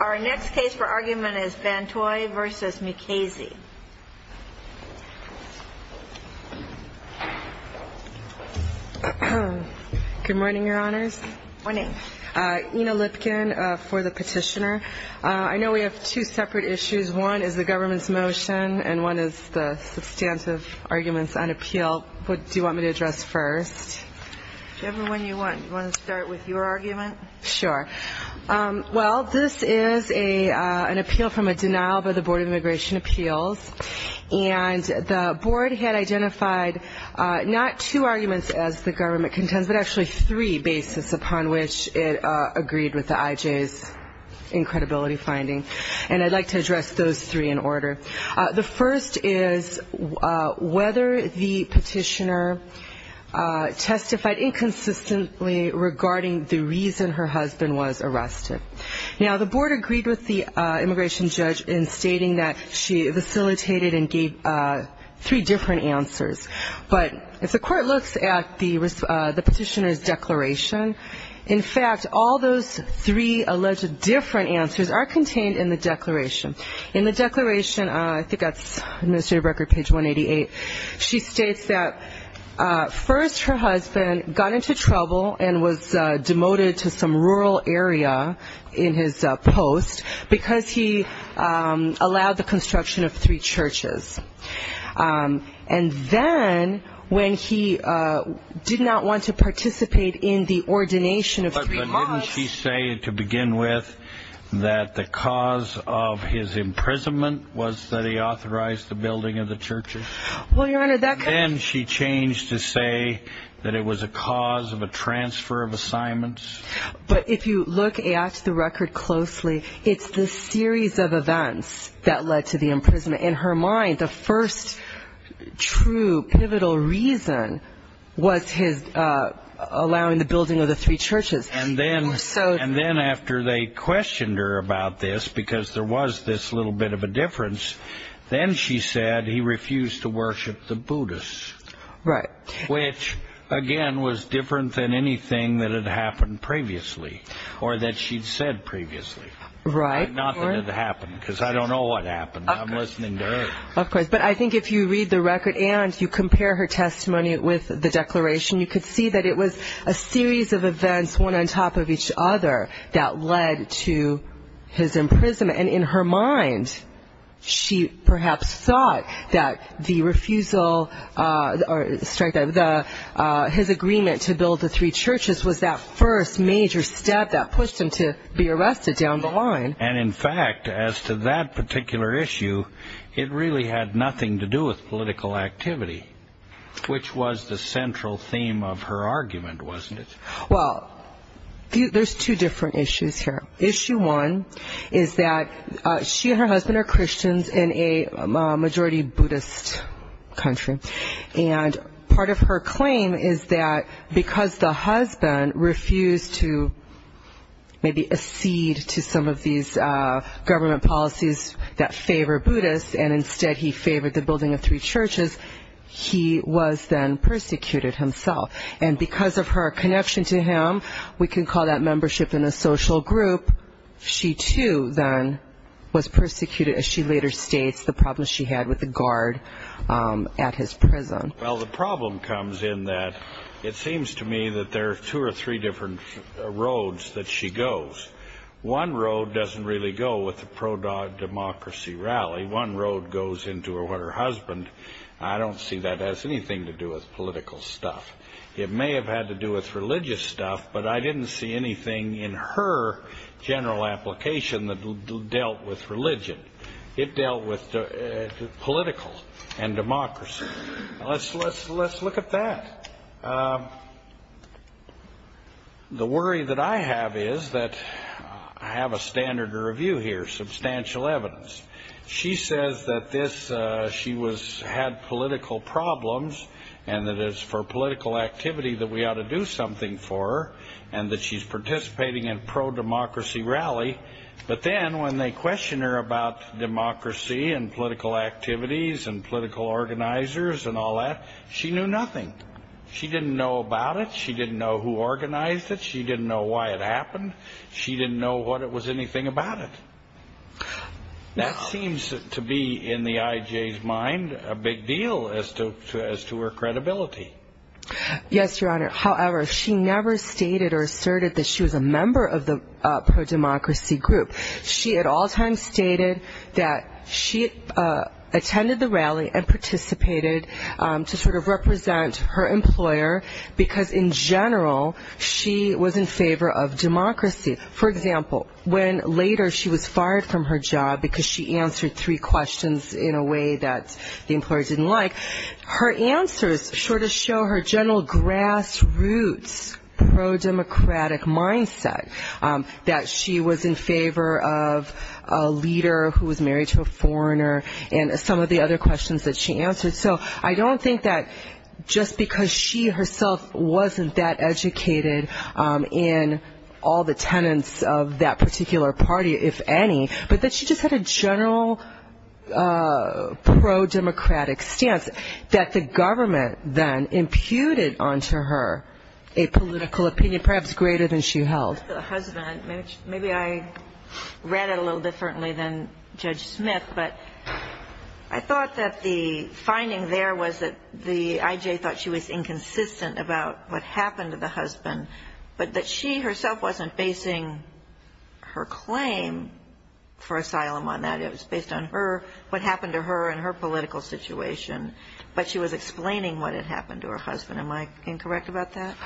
Our next case for argument is Van Htoi v. Mukasey. Good morning, Your Honors. Good morning. Ina Lipkin for the Petitioner. I know we have two separate issues. One is the government's motion and one is the substantive arguments on appeal. What do you want me to address first? Whichever one you want. Do you want to start with your argument? Sure. Well, this is an appeal from a denial by the Board of Immigration Appeals. And the board had identified not two arguments as the government contends, but actually three basis upon which it agreed with the IJ's incredibility finding. And I'd like to address those three in order. The first is whether the petitioner testified inconsistently regarding the reason for the denial. The second is whether the petitioner testified inconsistently regarding the reason her husband was arrested. Now, the board agreed with the immigration judge in stating that she facilitated and gave three different answers. But if the court looks at the petitioner's declaration, in fact, all those three alleged different answers are contained in the declaration. In the declaration, I think that's Administrative Record, page 188, she states that first her husband got into trouble and was demoted to some rural area in his post because he allowed the construction of three churches. And then when he did not want to participate in the ordination of three mosques... But didn't she say to begin with that the cause of his imprisonment was that he authorized the building of the churches? Well, Your Honor, that... Then she changed to say that it was a cause of a transfer of assignments. But if you look at the record closely, it's the series of events that led to the imprisonment. In her mind, the first true pivotal reason was his allowing the building of the three churches. And then after they questioned her about this, because there was this little bit of a difference, then she said he refused to worship the Buddhists. Which, again, was different than anything that had happened previously or that she'd said previously. Not that it happened, because I don't know what happened. I'm listening to her. Of course. But I think if you read the record and you compare her testimony with the declaration, you could see that it was a series of events, one on top of each other, that led to his imprisonment. And in her mind, she perhaps thought that the refusal of the three churches was the cause of his imprisonment. His agreement to build the three churches was that first major step that pushed him to be arrested down the line. And in fact, as to that particular issue, it really had nothing to do with political activity, which was the central theme of her argument, wasn't it? Well, there's two different issues here. Issue one is that she and her husband are Christians in a majority Buddhist country. And she and her husband are Buddhists. And part of her claim is that because the husband refused to maybe accede to some of these government policies that favor Buddhists, and instead he favored the building of three churches, he was then persecuted himself. And because of her connection to him, we can call that membership in a social group, she too then was persecuted, as she later states, the problems she had with the guard at his prison. Well, the problem comes in that it seems to me that there are two or three different roads that she goes. One road doesn't really go with the pro-democracy rally. One road goes into her husband. I don't see that has anything to do with political stuff. It may have had to do with religious stuff, but I didn't see anything in her general application that dealt with religion. It dealt with political and democracy. Let's look at that. The worry that I have is that I have a standard to review here, substantial evidence. She says that she had political problems, and that it's for political activity that we ought to do something for her, and that she's participating in a pro-democracy rally. But then when they question her about democracy and political activities and political organizers and all that, she knew nothing. She didn't know about it. She didn't know who organized it. She didn't know why it happened. She didn't know what it was anything about it. That seems to be, in the I.J.'s mind, a big deal as to her credibility. Yes, Your Honor. However, she never stated or asserted that she was a member of the pro-democracy group. She was a member of the pro-democracy group. She at all times stated that she attended the rally and participated to sort of represent her employer, because in general, she was in favor of democracy. For example, when later she was fired from her job because she answered three questions in a way that the employer didn't like, her answers sort of show her general grassroots pro-democratic mindset, that she was in favor of democracy. She was in favor of a leader who was married to a foreigner, and some of the other questions that she answered. So I don't think that just because she herself wasn't that educated in all the tenets of that particular party, if any, but that she just had a general pro-democratic stance, that the government then imputed onto her a political opinion perhaps greater than she held. The husband, maybe I read it a little differently than Judge Smith, but I thought that the finding there was that the I.J. thought she was inconsistent about what happened to the husband, but that she herself wasn't basing her claim for asylum on that. It was based on her, what happened to her and her political situation, but she was explaining what had happened to her husband. Am I incorrect about that?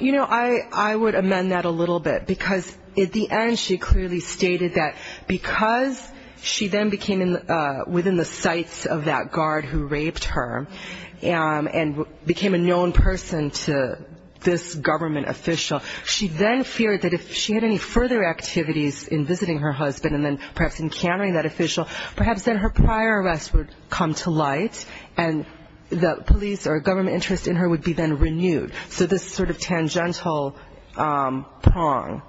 You know, I would amend that a little bit, because at the end she clearly stated that because she then became within the sights of that guard who raped her and became a known person to this government official, she then feared that if she had any further activities in visiting her husband and then perhaps encountering that official, perhaps then her prior arrest would come to light and the police or tangential prong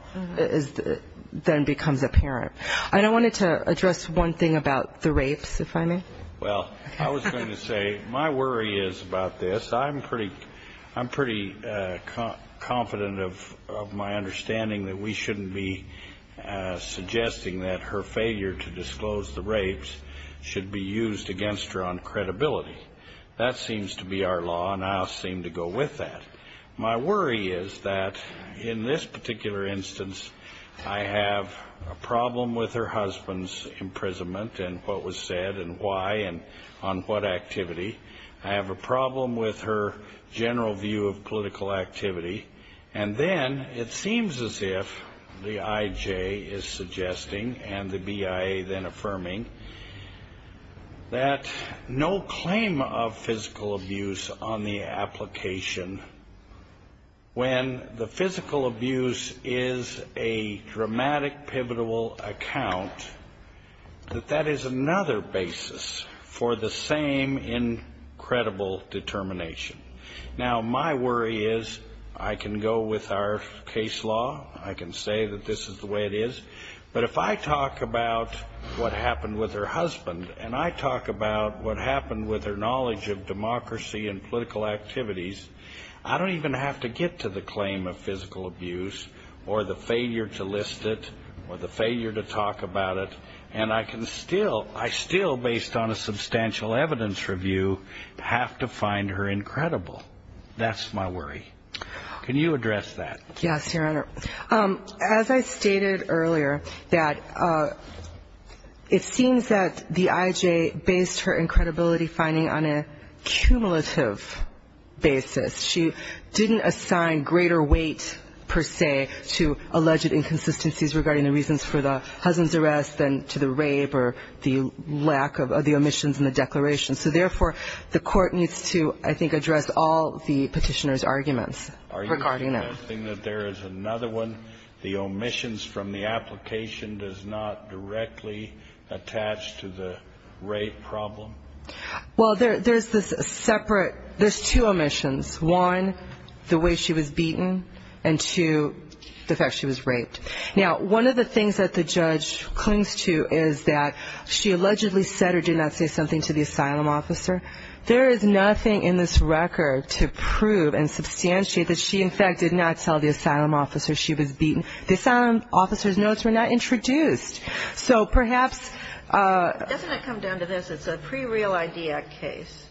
then becomes apparent. I wanted to address one thing about the rapes, if I may. Well, I was going to say my worry is about this. I'm pretty confident of my understanding that we shouldn't be suggesting that her failure to disclose the rapes should be used against her on credibility. That seems to be our law and I'll seem to go with that. My worry is that in this particular instance, I have a problem with her husband's imprisonment and what was said and why and on what activity. I have a problem with her general view of political activity. And then it seems as if the IJ is suggesting and the BIA then affirming that no claim of physical abuse on the application should be used against her on credibility. I think that's a problem. And I think that when the physical abuse is a dramatic, pivotal account, that that is another basis for the same incredible determination. Now, my worry is I can go with our case law, I can say that this is the way it is, but if I talk about what happened with her husband and I talk about what happened with her knowledge of democracy and political activities, I don't even have to get into the claim of physical abuse or the failure to list it or the failure to talk about it. And I can still, I still, based on a substantial evidence review, have to find her incredible. That's my worry. Can you address that? Yes, Your Honor. As I stated earlier that it seems that the IJ based her incredibility finding on a cumulative basis. She didn't assign greater weight per se to alleged inconsistencies regarding the reasons for the husband's arrest than to the rape or the lack of the omissions in the declaration. So therefore, the court needs to, I think, address all the petitioner's arguments regarding that. Are you suggesting that there is another one, the omissions from the application does not directly attach to the rape problem? Well, there's this separate, there's two omissions. One, the way she was beaten and two, the fact she was raped. Now, one of the things that the judge clings to is that she allegedly said or did not say something to the asylum officer. There is nothing in this record to prove and substantiate that she, in fact, did not tell the asylum officer she was beaten. The asylum officer's notes were not introduced. So perhaps — Doesn't it come down to this? It's a pre-Real ID Act case.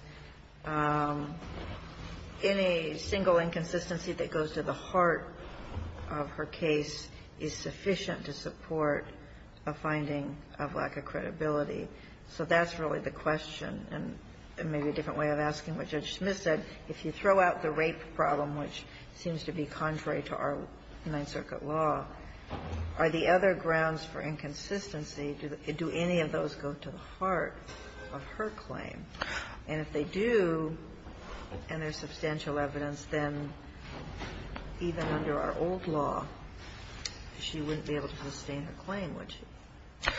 Any single inconsistency that goes to the heart of her case is sufficient to support a finding of lack of credibility. So that's really the question. And maybe a different way of asking what Judge Smith said. If you throw out the rape problem, which seems to be contrary to our Ninth Circuit law, are the other groups of evidence that are grounds for inconsistency, do any of those go to the heart of her claim? And if they do, and there's substantial evidence, then even under our old law, she wouldn't be able to sustain her claim, would she?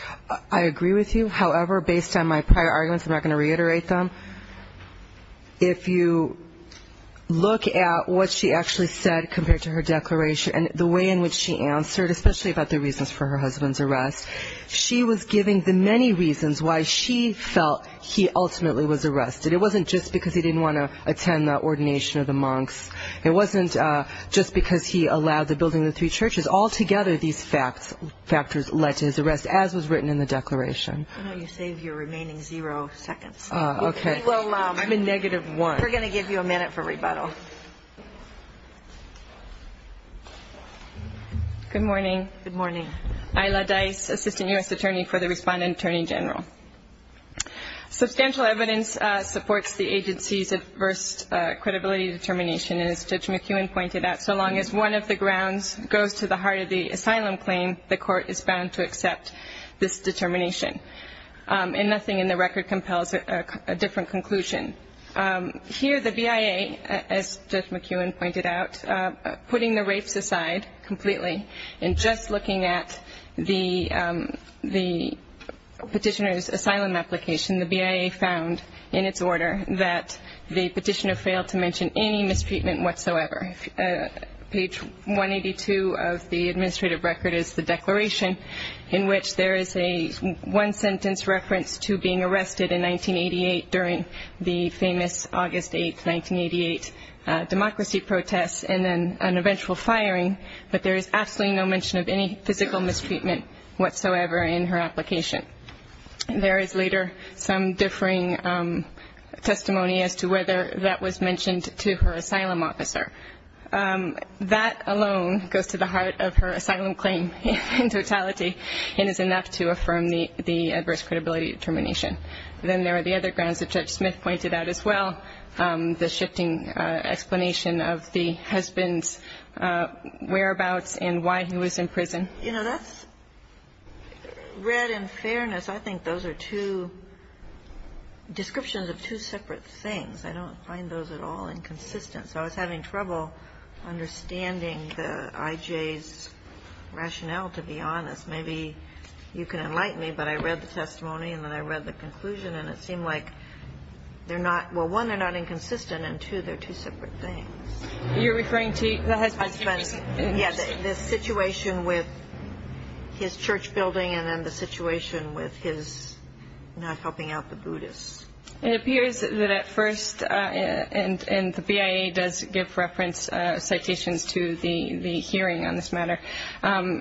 I agree with you. However, based on my prior arguments, I'm not going to reiterate them. If you look at what she actually said compared to her declaration and the way in which she answered, especially about the reasons for her husband's arrest, she was giving the many reasons why she felt he ultimately was arrested. It wasn't just because he didn't want to attend the ordination of the monks. It wasn't just because he allowed the building of the three churches. Altogether, these factors led to his arrest, as was written in the declaration. Good morning. Ila Dice, Assistant U.S. Attorney for the Respondent Attorney General. Substantial evidence supports the agency's adverse credibility determination, and as Judge McEwen pointed out, so long as one of the grounds goes to the heart of the asylum claim, the court is bound to accept this determination. And nothing in the record compels a different conclusion. Here, the BIA, as Judge McEwen pointed out, putting the rapes aside completely, and just looking at the petitioner's asylum application, the BIA found in its order that the petitioner failed to mention any mistreatment whatsoever. Page 182 of the administrative record is the declaration in which there is a one sentence reference to being arrested in 1988 during the famous August 8, 1988, democracy protests, and the BIA found that the petitioner failed to mention any mistreatment whatsoever in her application. There is later some differing testimony as to whether that was mentioned to her asylum officer. That alone goes to the heart of her asylum claim in totality, and is enough to affirm the adverse credibility determination. Then there are the other grounds that Judge Smith pointed out as well, the shifting explanation of the BIA's testimony. How would you explain that? And what would you explain to me as a judge, as a judge, about the husband's whereabouts and why he was in prison? You know, that's read and fairness. I think those are two descriptions of two separate things. I don't find those at all inconsistent. So I was having trouble understanding the IJ's rationale, to be honest. Maybe you can enlighten me, but I read the testimony and then I read the conclusion, and it seemed like they're not, well, one, they're not inconsistent and, two, they're two separate things. You're referring to the husband's? Yes, the situation with his church building and then the situation with his not helping out the Buddhists. It appears that at first, and the BIA does give reference citations to the hearing on this matter,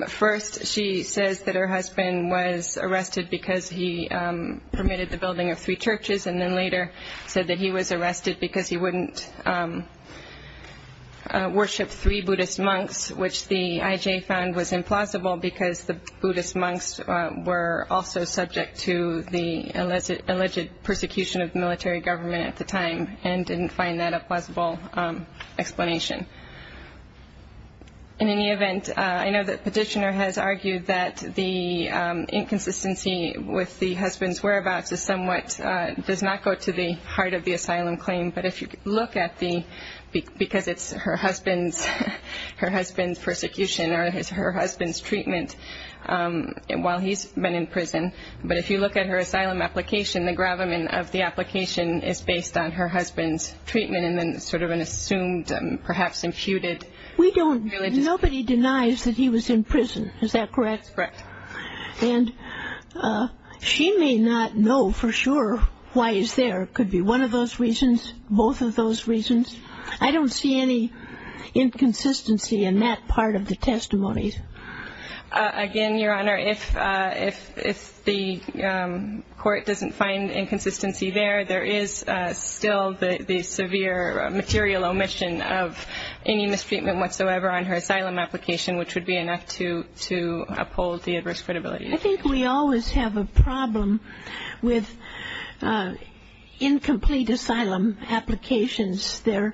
first she says that her husband was arrested because he permitted the building of three churches and then later said that he was arrested because he wouldn't allow the church to worship three Buddhist monks, which the IJ found was implausible because the Buddhist monks were also subject to the alleged persecution of the military government at the time and didn't find that a plausible explanation. In any event, I know the petitioner has argued that the inconsistency with the husband's whereabouts is somewhat, does not go to the asylum claim, but if you look at the, because it's her husband's persecution or her husband's treatment while he's been in prison, but if you look at her asylum application, the gravamen of the application is based on her husband's treatment and then sort of an assumed, perhaps imputed. We don't, nobody denies that he was in prison, is that correct? That's correct. And she may not know for sure why he's there. It could be one of those reasons, both of those reasons. I don't see any inconsistency in that part of the testimony. Again, Your Honor, if the court doesn't find inconsistency there, there is still the severe material omission of any mistreatment whatsoever on her part. I think we always have a problem with incomplete asylum applications. They're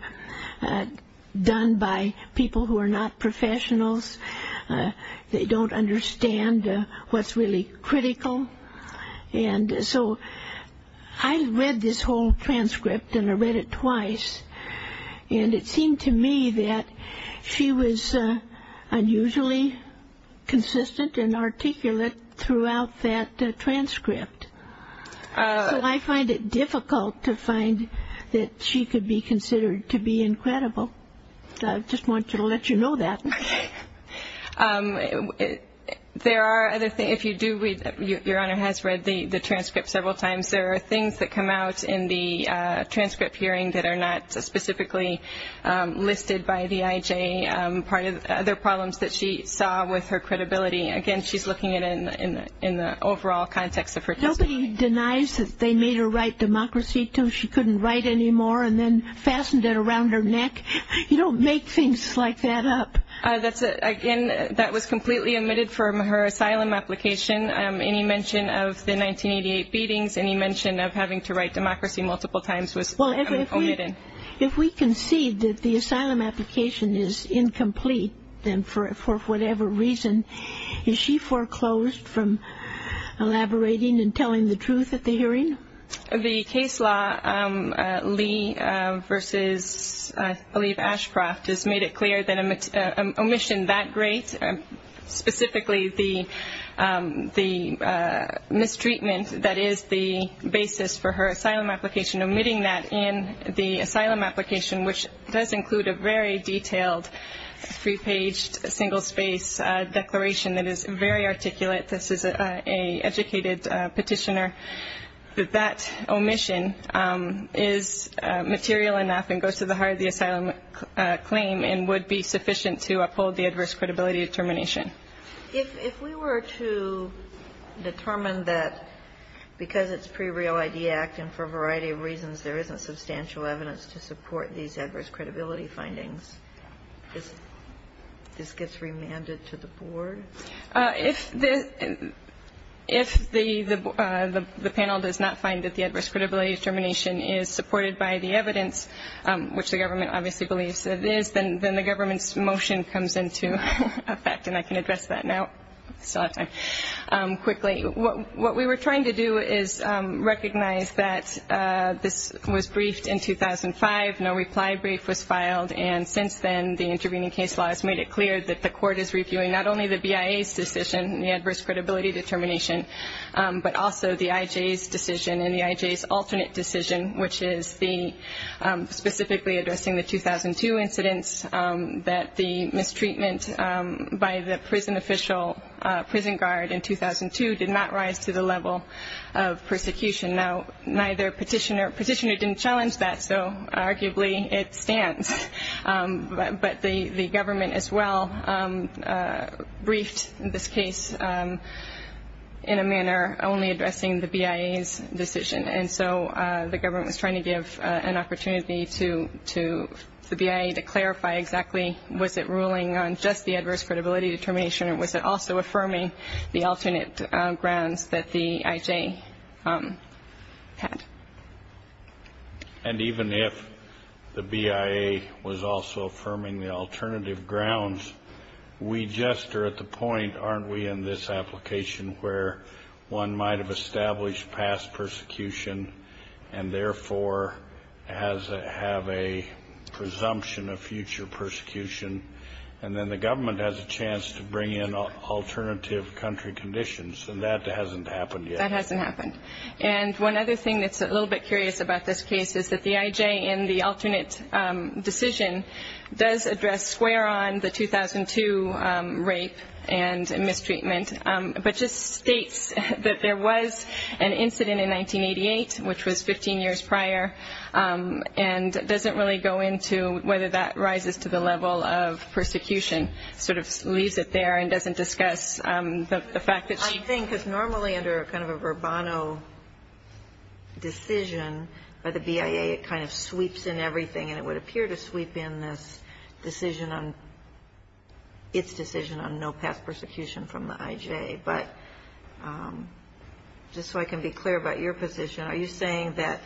done by people who are not professionals. They don't understand what's really critical. And so I read this whole transcript, and I read it twice, and it seemed to me that she was unusually consistent in what she said. And I found it difficult to find that she could be considered to be incredible. So I just wanted to let you know that. There are other things, if you do read, Your Honor has read the transcript several times, there are things that come out in the transcript hearing that are not specifically listed by the IJ, other problems that she saw with her credibility. Again, she's not a professional. She's not a professional. And she's looking at it in the overall context of her testimony. Nobody denies that they made her write Democracy II. She couldn't write any more and then fastened it around her neck. You don't make things like that up. Again, that was completely omitted from her asylum application. Any mention of the 1988 beatings, any mention of having to write Democracy multiple times was omitted. If we concede that the asylum application is incomplete, then for whatever reason, is she free to write it? Is she free to be foreclosed from elaborating and telling the truth at the hearing? The case law, Lee v. I believe Ashcroft, has made it clear that an omission that great, specifically the mistreatment that is the basis for her asylum application, omitting that in the asylum application, which does include a very detailed, three-paged, single-space declaration that is very articulate, this is an educated petitioner, that that omission is material enough and goes to the heart of the asylum claim and would be sufficient to uphold the adverse credibility determination. If we were to determine that because it's pre-real ID Act and for a variety of reasons there isn't substantial evidence to support these adverse credibility findings, this gets remanded to the board? If the panel does not find that the adverse credibility determination is supported by the evidence, which the government obviously believes it is, then the government's motion comes into effect, and I can address that now. I still have time. Quickly, what we were trying to do is recognize that this was briefed in 2005, no reply brief was filed, and since then the intervening case law has made it clear that not only the CIA's decision, the adverse credibility determination, but also the IJ's decision and the IJ's alternate decision, which is the specifically addressing the 2002 incidents, that the mistreatment by the prison official, prison guard, in 2002 did not rise to the level of persecution. Now, neither petitioner, petitioner didn't challenge that, so arguably it stands, but the government as well briefed the IJ's decision. And so the government was trying to give an opportunity to the BIA to clarify exactly was it ruling on just the adverse credibility determination, or was it also affirming the alternate grounds that the IJ had. And even if the BIA was also affirming the alternative grounds, we just are at the point where the IJ's decision, which is the IJ's alternative decision, is not a good one. We are at the point, aren't we, in this application where one might have established past persecution, and therefore has to have a presumption of future persecution, and then the government has a chance to bring in alternative country conditions, and that hasn't happened yet. That hasn't happened. And one other thing that's a little bit curious about this case is that the IJ in the alternate decision does address square on the 2002 rape and mistreatment, but just states that there was an incident in 1988, which was 15 years prior, and doesn't really go into whether that rises to the level of persecution, sort of leaves it there and doesn't discuss the fact that she was raped. And I think, because normally under kind of a verbano decision by the BIA, it kind of sweeps in everything, and it would appear to sweep in this decision on its decision on no past persecution from the IJ. But just so I can be clear about your position, are you saying that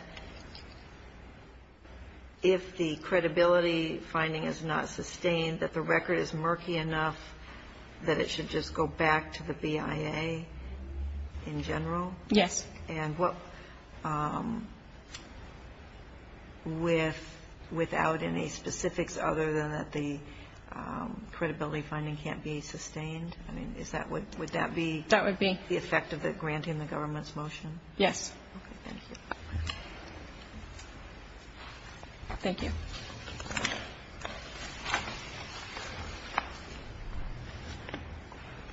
if the credibility finding is not sustained, that the record is murky enough that it should just go back to the BIA in general? Yes. And without any specifics other than that the credibility finding can't be sustained? I mean, would that be the effect of the granting the government's motion? Yes.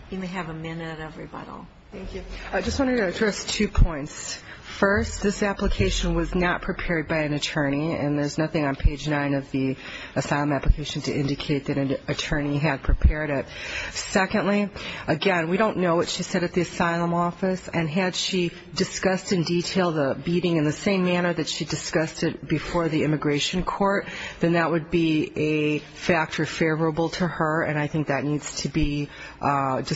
You may have a minute, everybody. Thank you. I just wanted to address two points. First, this application was not prepared by an attorney, and there's nothing on page nine of the asylum application to indicate that an attorney had prepared it. Secondly, again, we don't know what she said at the asylum office, and had she discussed in detail the beating in the same manner that she discussed it before the immigration court, then that would be a factor favorable to her, and I think that needs to be addressed.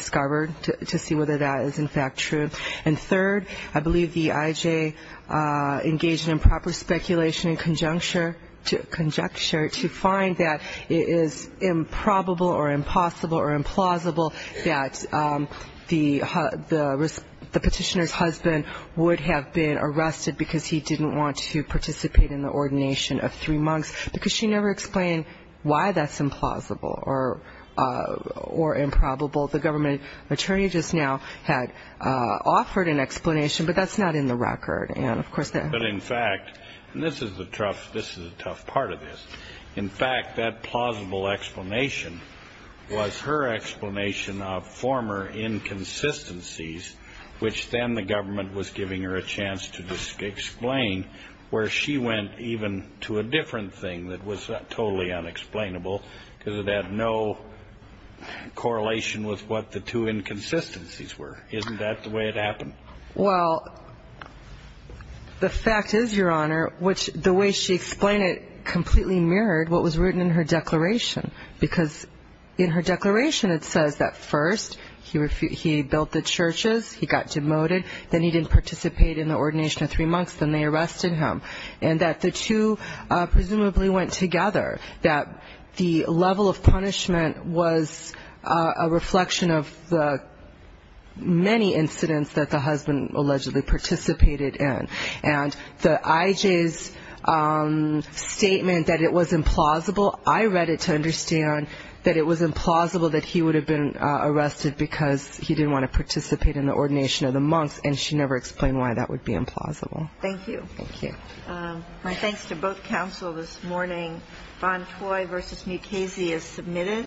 And third, I believe the IJ engaged in proper speculation and conjecture to find that it is improbable or impossible or implausible that the petitioner's husband would have been arrested because he didn't want to participate in the ordination of three monks, because she never explained why that's implausible or why that's not possible. And I think that's a factor favorable to her, and I think that's a factor implausible or improbable. The government attorney just now had offered an explanation, but that's not in the record. And, of course, that... But, in fact, and this is the tough part of this, in fact, that plausible explanation was her explanation of former inconsistencies, which then the government was giving her a chance to explain, where she went even to a different thing that was totally unexplainable, because it had no concrete explanation. And that's the tough part of this. And I do wonder if that was the correlation with what the two inconsistencies were. Isn't that the way it happened? Well, the fact is, Your Honor, which the way she explained it completely mirrored what was written in her declaration, because in her declaration it says that first he built the churches, he got demoted, then he didn't participate in the ordination of three monks, then they arrested him. And that the two presumably went together, that the level of punishment was a reflection of the many incidents that the husband allegedly participated in. And the IJ's statement that it was implausible, I read it to understand that it was implausible that he would have been arrested because he didn't want to participate in the ordination of the monks, and she never explained why that would be implausible. Thank you. My thanks to both counsel this morning. Bontoy v. Mukasey is submitted.